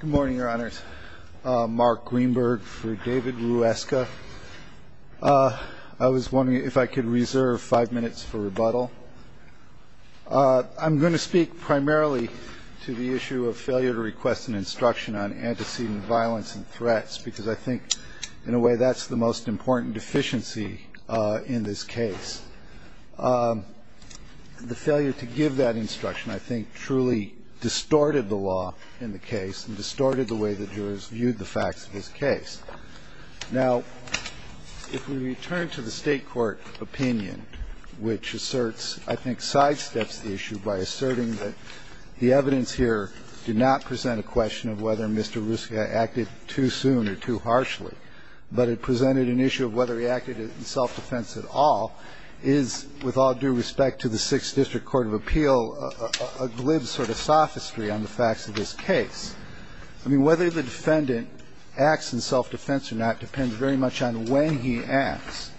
Good morning, your honors. Mark Greenberg for David Ruezga. I was wondering if I could reserve five minutes for rebuttal. I'm going to speak primarily to the issue of failure to request an instruction on antecedent violence and threats, because I think in a way that's the most important deficiency in this case. The failure to give that instruction, I think, truly distorted the law in the case and distorted the way the jurors viewed the facts of this case. Now, if we return to the State court opinion, which asserts, I think, sidesteps the issue by asserting that the evidence here did not present a question of whether Mr. Ruzga acted too soon or too harshly, but it presented an issue of whether he acted in self-defense at all, is, with all due respect to the Sixth District Court of Appeal, a glib sort of sophistry on the facts of this case. I mean, whether the defendant acts in self-defense or not depends very much on when he acts.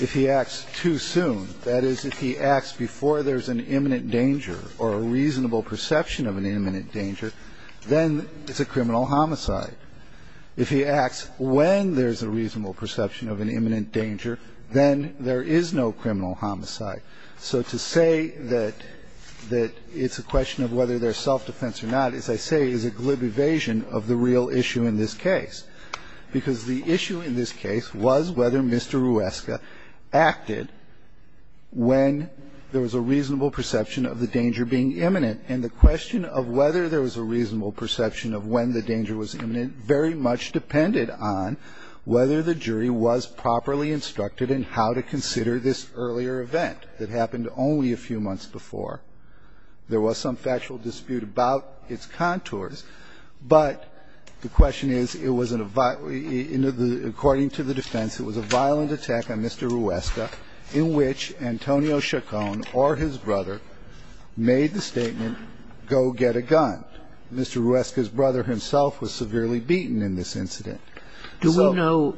If he acts too soon, that is, if he acts before there's an imminent danger or a reasonable perception of an imminent danger, then it's a criminal homicide. If he acts when there's a reasonable perception of an imminent danger, then there is no criminal homicide. So to say that it's a question of whether there's self-defense or not, as I say, is a glib evasion of the real issue in this case, because the issue in this case was whether Mr. Ruzga acted when there was a reasonable perception of the danger being imminent. And the question of whether there was a reasonable perception of when the danger was imminent very much depended on whether the jury was properly instructed in how to consider this earlier event that happened only a few months before. There was some factual dispute about its contours, but the question is, it wasn't a violent attack. It was a violent attack on Mr. Ruzga. According to the defense, it was a violent attack on Mr. Ruzga in which Antonio Chacon or his brother made the statement, go get a gun. Mr. Ruzga's brother himself was severely beaten in this incident. So we know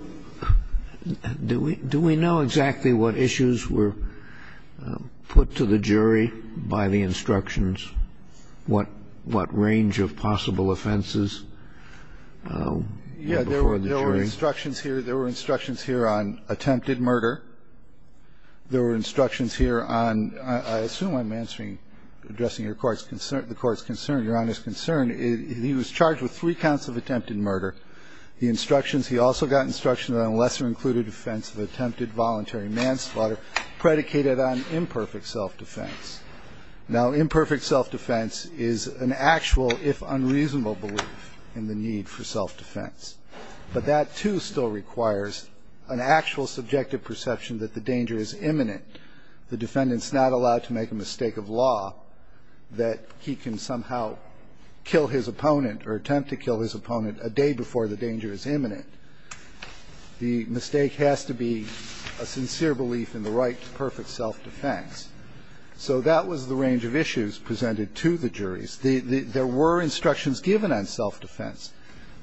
do we do we know exactly what issues were put to the jury by the instructions? What range of possible offenses before the jury? Yeah. There were instructions here. There were instructions here on attempted murder. There were instructions here on, I assume I'm answering, addressing your Court's concern, the Court's concern, Your Honor's concern. He was charged with three counts of attempted murder. The instructions, he also got instructions on a lesser-included offense of attempted voluntary manslaughter predicated on imperfect self-defense. Now, imperfect self-defense is an actual, if unreasonable, belief in the need for self-defense. But that, too, still requires an actual subjective perception that the danger is imminent. The defendant's not allowed to make a mistake of law that he can somehow kill his opponent or attempt to kill his opponent a day before the danger is imminent. The mistake has to be a sincere belief in the right to perfect self-defense. So that was the range of issues presented to the juries. There were instructions given on self-defense.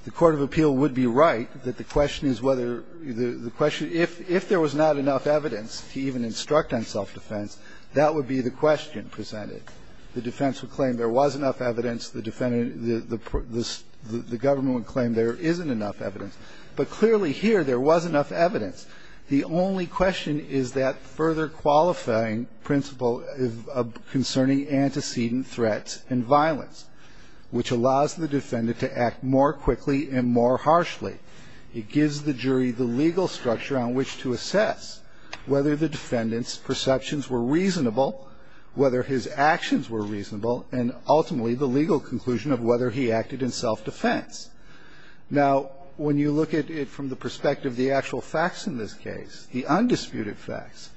The court of appeal would be right that the question is whether the question if there was not enough evidence to even instruct on self-defense, that would be the question presented. The defense would claim there was enough evidence. The defendant, the government would claim there isn't enough evidence. But clearly here, there was enough evidence. The only question is that further qualifying principle concerning antecedent threats and violence, which allows the defendant to act more quickly and more harshly. It gives the jury the legal structure on which to assess whether the defendant's perceptions were reasonable, whether his actions were reasonable, and ultimately the legal conclusion of whether he acted in self-defense. Now, when you look at it from the perspective of the actual facts in this case, the undisputed facts,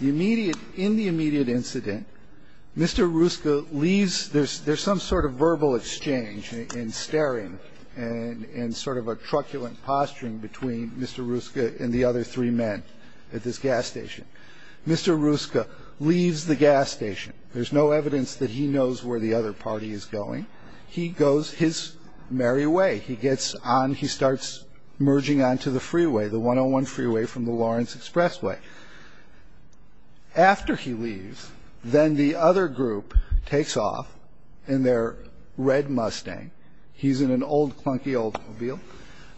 the immediate ñ in the immediate incident, Mr. Rusca leaves ñ there's some sort of verbal exchange and staring and sort of a truculent posturing between Mr. Rusca and the other three men at this gas station. Mr. Rusca leaves the gas station. There's no evidence that he knows where the other party is going. He goes his merry way. He gets on. He starts merging onto the freeway, the 101 freeway from the Lawrence Expressway. After he leaves, then the other group takes off in their red Mustang. He's in an old clunky automobile.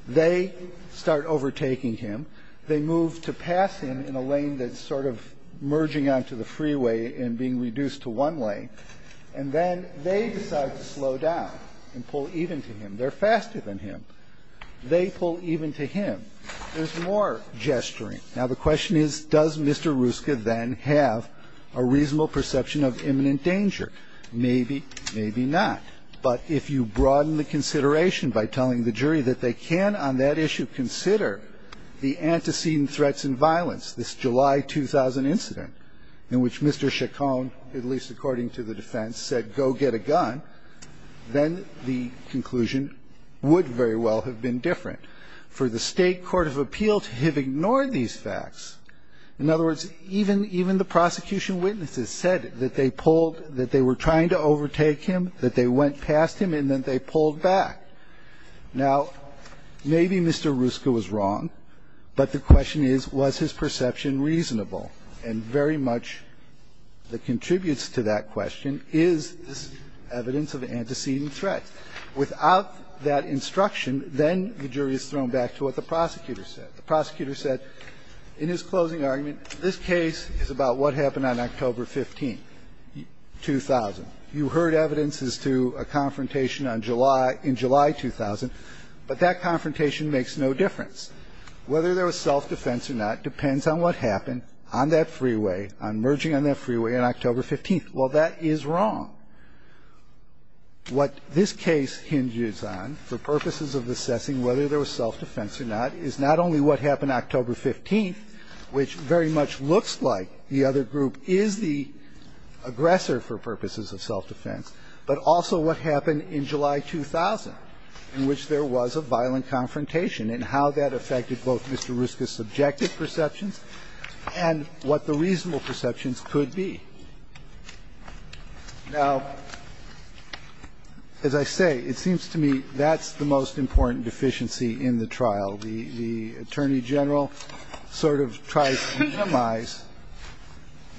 They start overtaking him. They move to pass him in a lane that's sort of merging onto the freeway and being reduced to one lane. And then they decide to slow down and pull even to him. They're faster than him. They pull even to him. There's more gesturing. Now, the question is, does Mr. Rusca then have a reasonable perception of imminent danger? Maybe, maybe not. But if you broaden the consideration by telling the jury that they can on that issue consider the antecedent threats and violence, this July 2000 incident in which Mr. Rusca, the defense, said go get a gun, then the conclusion would very well have been different. For the State court of appeal to have ignored these facts, in other words, even the prosecution witnesses said that they pulled, that they were trying to overtake him, that they went past him, and then they pulled back. Now, maybe Mr. Rusca was wrong, but the question is, was his perception reasonable? And very much that contributes to that question is this evidence of antecedent threats. Without that instruction, then the jury is thrown back to what the prosecutor said. The prosecutor said, in his closing argument, this case is about what happened on October 15, 2000. You heard evidence as to a confrontation on July, in July 2000, but that confrontation makes no difference. Whether there was self-defense or not depends on what happened on that freeway, on merging on that freeway on October 15. Well, that is wrong. What this case hinges on for purposes of assessing whether there was self-defense or not is not only what happened October 15, which very much looks like the other group is the aggressor for purposes of self-defense, but also what happened in July 2000 in which there was a violent confrontation and how that affected both Mr. Rusca's subjective perceptions and what the reasonable perceptions could be. Now, as I say, it seems to me that's the most important deficiency in the trial. The Attorney General sort of tries to minimize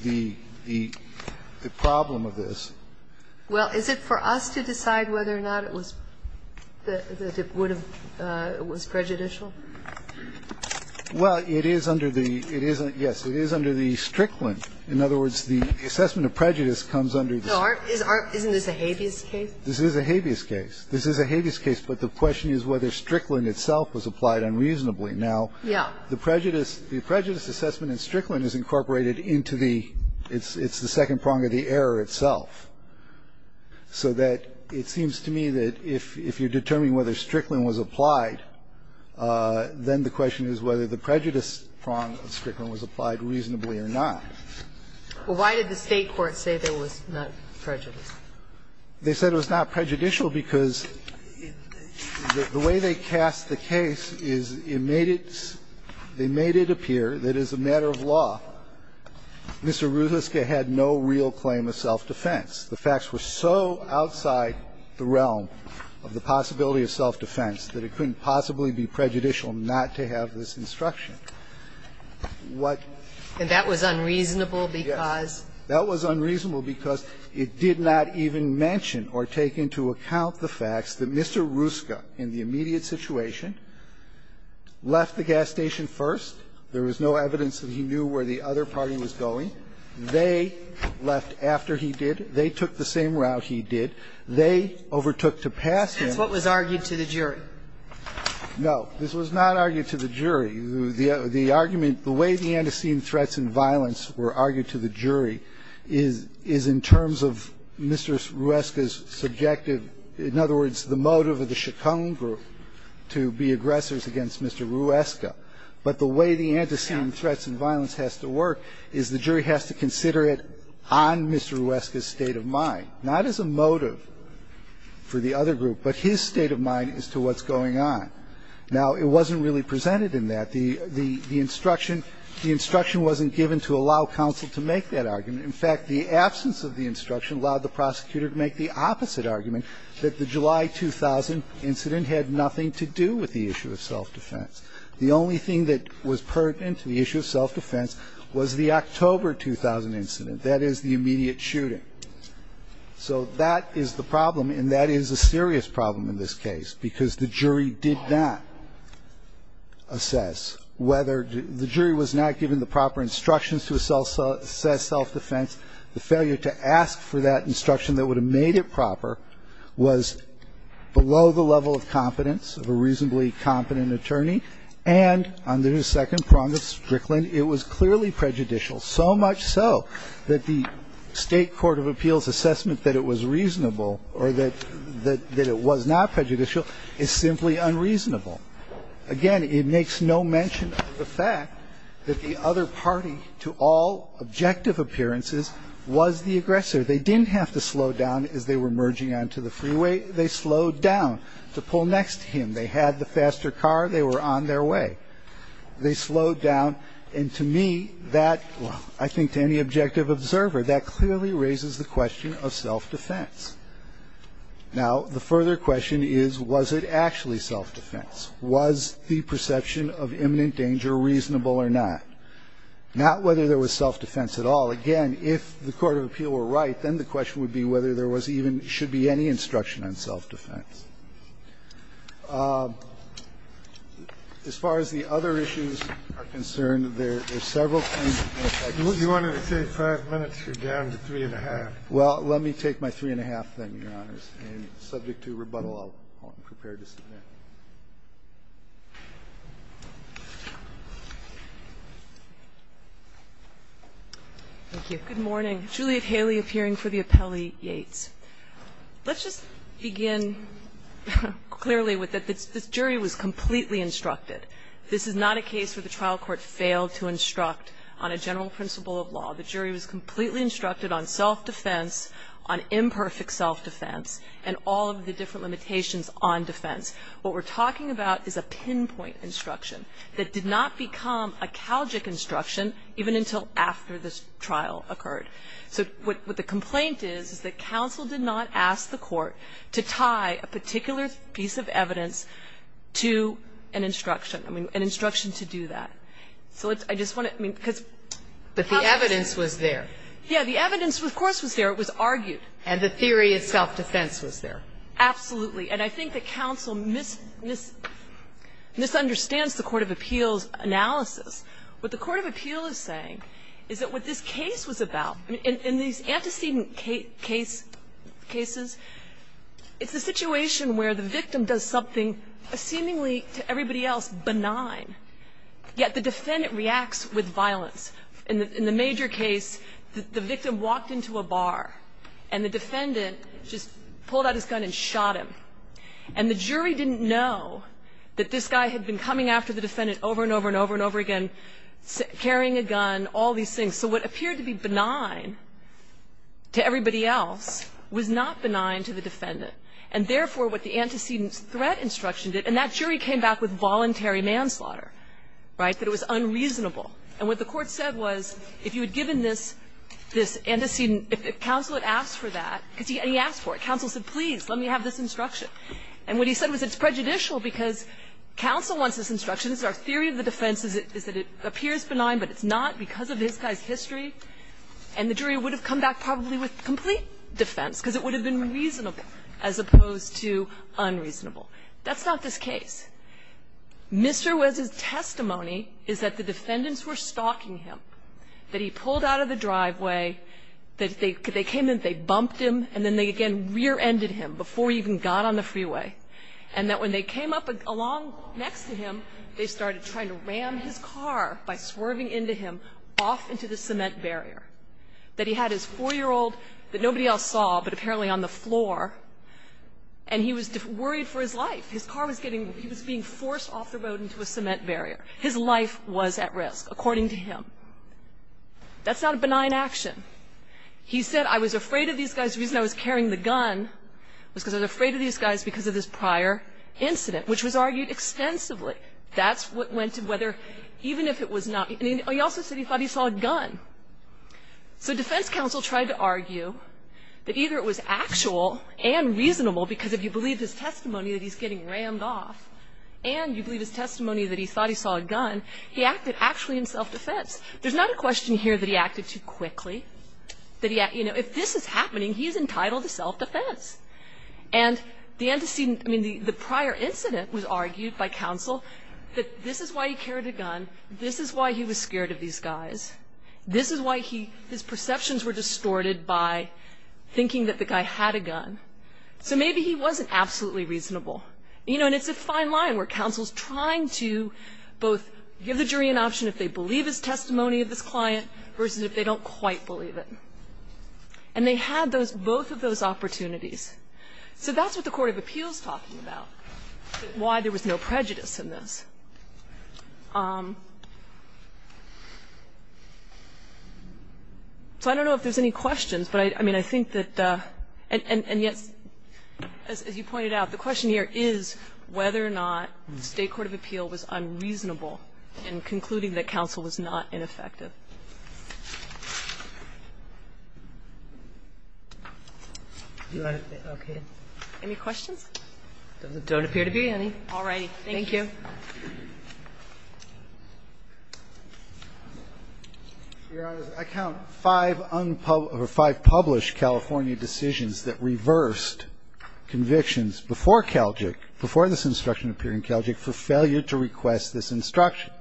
the problem of this. Well, is it for us to decide whether or not it was, that it would have, it was prejudicial? Well, it is under the, it is, yes, it is under the Strickland. In other words, the assessment of prejudice comes under the. Isn't this a habeas case? This is a habeas case. This is a habeas case, but the question is whether Strickland itself was applied unreasonably. Now, the prejudice assessment in Strickland is incorporated into the, it's the second prong of the error itself, so that it seems to me that if you're determining whether Strickland was applied, then the question is whether the prejudice prong of Strickland was applied reasonably or not. Well, why did the State court say that it was not prejudicial? They said it was not prejudicial because the way they cast the case is it made it, they made it appear that as a matter of law, Mr. Ruska had no real claim of self-defense. The facts were so outside the realm of the possibility of self-defense that it couldn't possibly be prejudicial not to have this instruction. What? And that was unreasonable because? Yes. That was unreasonable because it did not even mention or take into account the facts that Mr. Ruska in the immediate situation left the gas station first. There was no evidence that he knew where the other party was going. They left after he did. They took the same route he did. They overtook to pass him. That's what was argued to the jury. No. This was not argued to the jury. Now, the reason why it was not argued to the jury is in terms of Mr. Ruska's subjective, in other words, the motive of the Chaconne group to be aggressors against Mr. Ruska. But the way the antecedent threats and violence has to work is the jury has to consider it on Mr. Ruska's state of mind, not as a motive for the other group, but his state of mind as to what's going on. Now, it wasn't really presented in that. The instruction wasn't given to allow counsel to make that argument. In fact, the absence of the instruction allowed the prosecutor to make the opposite argument, that the July 2000 incident had nothing to do with the issue of self-defense. The only thing that was pertinent to the issue of self-defense was the October 2000 incident, that is, the immediate shooting. So that is the problem, and that is a serious problem in this case because the jury did not assess whether the jury was not given the proper instructions to assess self-defense. The failure to ask for that instruction that would have made it proper was below the level of competence of a reasonably competent attorney, and on the second prong of Strickland, it was clearly prejudicial, so much so that the State court of appeals assessment that it was reasonable or that it was not prejudicial is simply unreasonable. Again, it makes no mention of the fact that the other party, to all objective appearances, was the aggressor. They didn't have to slow down as they were merging onto the freeway. They slowed down to pull next to him. They had the faster car. They were on their way. They slowed down, and to me that, I think to any objective observer, that clearly raises the question of self-defense. Now, the further question is, was it actually self-defense? Was the perception of imminent danger reasonable or not? Not whether there was self-defense at all. Again, if the court of appeal were right, then the question would be whether there was even or should be any instruction on self-defense. As far as the other issues are concerned, there are several kinds of things. Kennedy. You wanted to take five minutes. You're down to three and a half. Well, let me take my three and a half then, Your Honors. And subject to rebuttal, I'll prepare to submit. Thank you. Good morning. Juliet Haley appearing for the appellee, Yates. Let's just begin clearly with that this jury was completely instructed. This is not a case where the trial court failed to instruct on a general principle of law. The jury was completely instructed on self-defense, on imperfect self-defense, and all of the different limitations on defense. What we're talking about is a pinpoint instruction that did not become a calgic instruction even until after the trial occurred. So what the complaint is, is that counsel did not ask the court to tie a particular piece of evidence to an instruction, I mean, an instruction to do that. So I just want to, I mean, because. But the evidence was there. Yeah. The evidence, of course, was there. It was argued. And the theory of self-defense was there. Absolutely. And I think that counsel misunderstands the court of appeals analysis. What the court of appeals is saying is that what this case was about, in these antecedent cases, it's a situation where the victim does something seemingly, to everybody else, benign. Yet the defendant reacts with violence. In the major case, the victim walked into a bar, and the defendant just pulled out his gun and shot him. And the jury didn't know that this guy had been coming after the defendant over and over and over and over again, carrying a gun, all these things. So what appeared to be benign to everybody else was not benign to the defendant. And therefore, what the antecedent threat instruction did, and that jury came back with voluntary manslaughter, right? That it was unreasonable. And what the court said was, if you had given this antecedent, if counsel had asked for that, because he asked for it, counsel said, please, let me have this instruction. And what he said was it's prejudicial because counsel wants this instruction. It's our theory of the defense is that it appears benign, but it's not because of this guy's history. And the jury would have come back probably with complete defense, because it would have been reasonable as opposed to unreasonable. That's not this case. Mr. Wes's testimony is that the defendants were stalking him, that he pulled out of the driveway, that they came in, they bumped him, and then they again rear-ended him before he even got on the freeway, and that when they came up along next to him, they started trying to ram his car by swerving into him off into the cement barrier, that he had his 4-year-old that nobody else saw but apparently on the floor, and he was worried for his life. His car was getting – he was being forced off the road into a cement barrier. His life was at risk, according to him. That's not a benign action. He said, I was afraid of these guys. The reason I was carrying the gun was because I was afraid of these guys because of this prior incident, which was argued extensively. That's what went to whether, even if it was not – and he also said he thought he saw a gun. So defense counsel tried to argue that either it was actual and reasonable because if you believe his testimony that he's getting rammed off and you believe his testimony that he thought he saw a gun, he acted actually in self-defense. There's not a question here that he acted too quickly, that he – if this is happening, he is entitled to self-defense. And the antecedent – I mean, the prior incident was argued by counsel that this is why he carried a gun. This is why he was scared of these guys. This is why he – his perceptions were distorted by thinking that the guy had a gun. So maybe he wasn't absolutely reasonable. You know, and it's a fine line where counsel's trying to both give the jury an option if they believe his testimony of this client versus if they don't quite believe it. And they had those – both of those opportunities. So that's what the court of appeals is talking about, why there was no prejudice in this. So I don't know if there's any questions, but I mean, I think that – and yet, as you pointed out, the question here is whether or not the State court of appeal was unreasonable in concluding that counsel was not ineffective. Okay. Any questions? There don't appear to be any. All right. Thank you. Your Honor, I count five unpublished – or five published California decisions that reversed convictions before Calgic, before this instruction appeared in Calgic for failure to request this instruction.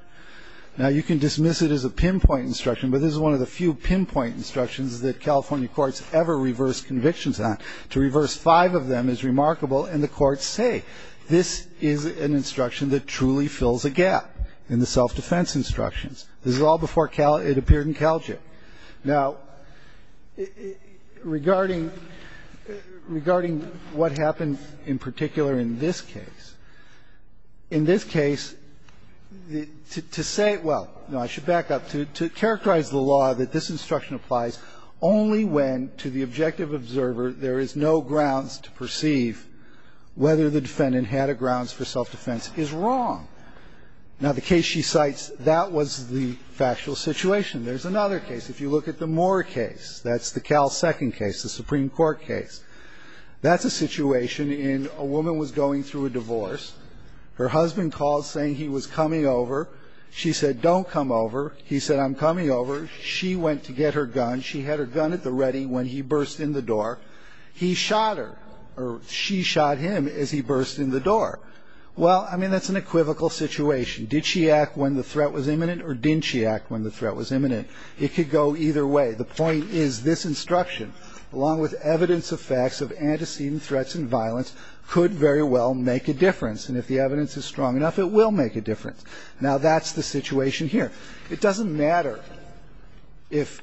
Now, you can dismiss it as a pinpoint instruction, but this is one of the few pinpoint instructions that California courts ever reverse convictions on. To reverse five of them is remarkable, and the courts say, this is an instruction that truly fills a gap in the self-defense instructions. This is all before it appeared in Calgic. Now, regarding – regarding what happened in particular in this case, in this case, to say – well, no, I should back up. To characterize the law that this instruction applies only when, to the objective observer, there is no grounds to perceive whether the defendant had a grounds for self-defense is wrong. Now, the case she cites, that was the factual situation. There's another case. If you look at the Moore case, that's the Cal second case, the Supreme Court case. That's a situation in a woman was going through a divorce. Her husband called saying he was coming over. She said, don't come over. He said, I'm coming over. She went to get her gun. She had her gun at the ready when he burst in the door. He shot her, or she shot him as he burst in the door. Well, I mean, that's an equivocal situation. Did she act when the threat was imminent, or didn't she act when the threat was imminent? It could go either way. The point is this instruction, along with evidence of facts of antecedent threats and violence, could very well make a difference. And if the evidence is strong enough, it will make a difference. Now, that's the situation here. It doesn't matter if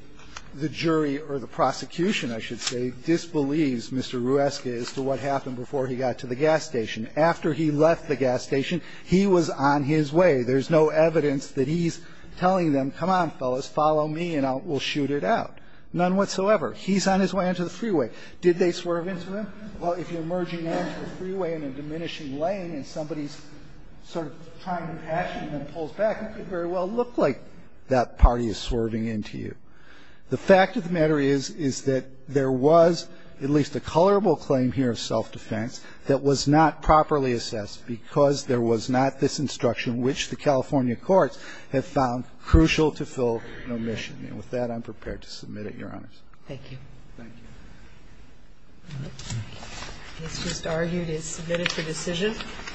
the jury or the prosecution, I should say, disbelieves Mr. Rueska as to what happened before he got to the gas station. After he left the gas station, he was on his way. There's no evidence that he's telling them, come on, fellas, follow me and we'll shoot it out. None whatsoever. He's on his way onto the freeway. Did they swerve into him? Well, if you're merging onto the freeway in a diminishing lane and somebody's sort of trying to pass you and then pulls back, it could very well look like that party is swerving into you. The fact of the matter is, is that there was at least a colorable claim here of self-defense that was not properly assessed because there was not this instruction, which the California courts have found crucial to fill an omission. And with that, I'm prepared to submit it, Your Honors. Thank you. Thank you. This just argued is submitted for decision.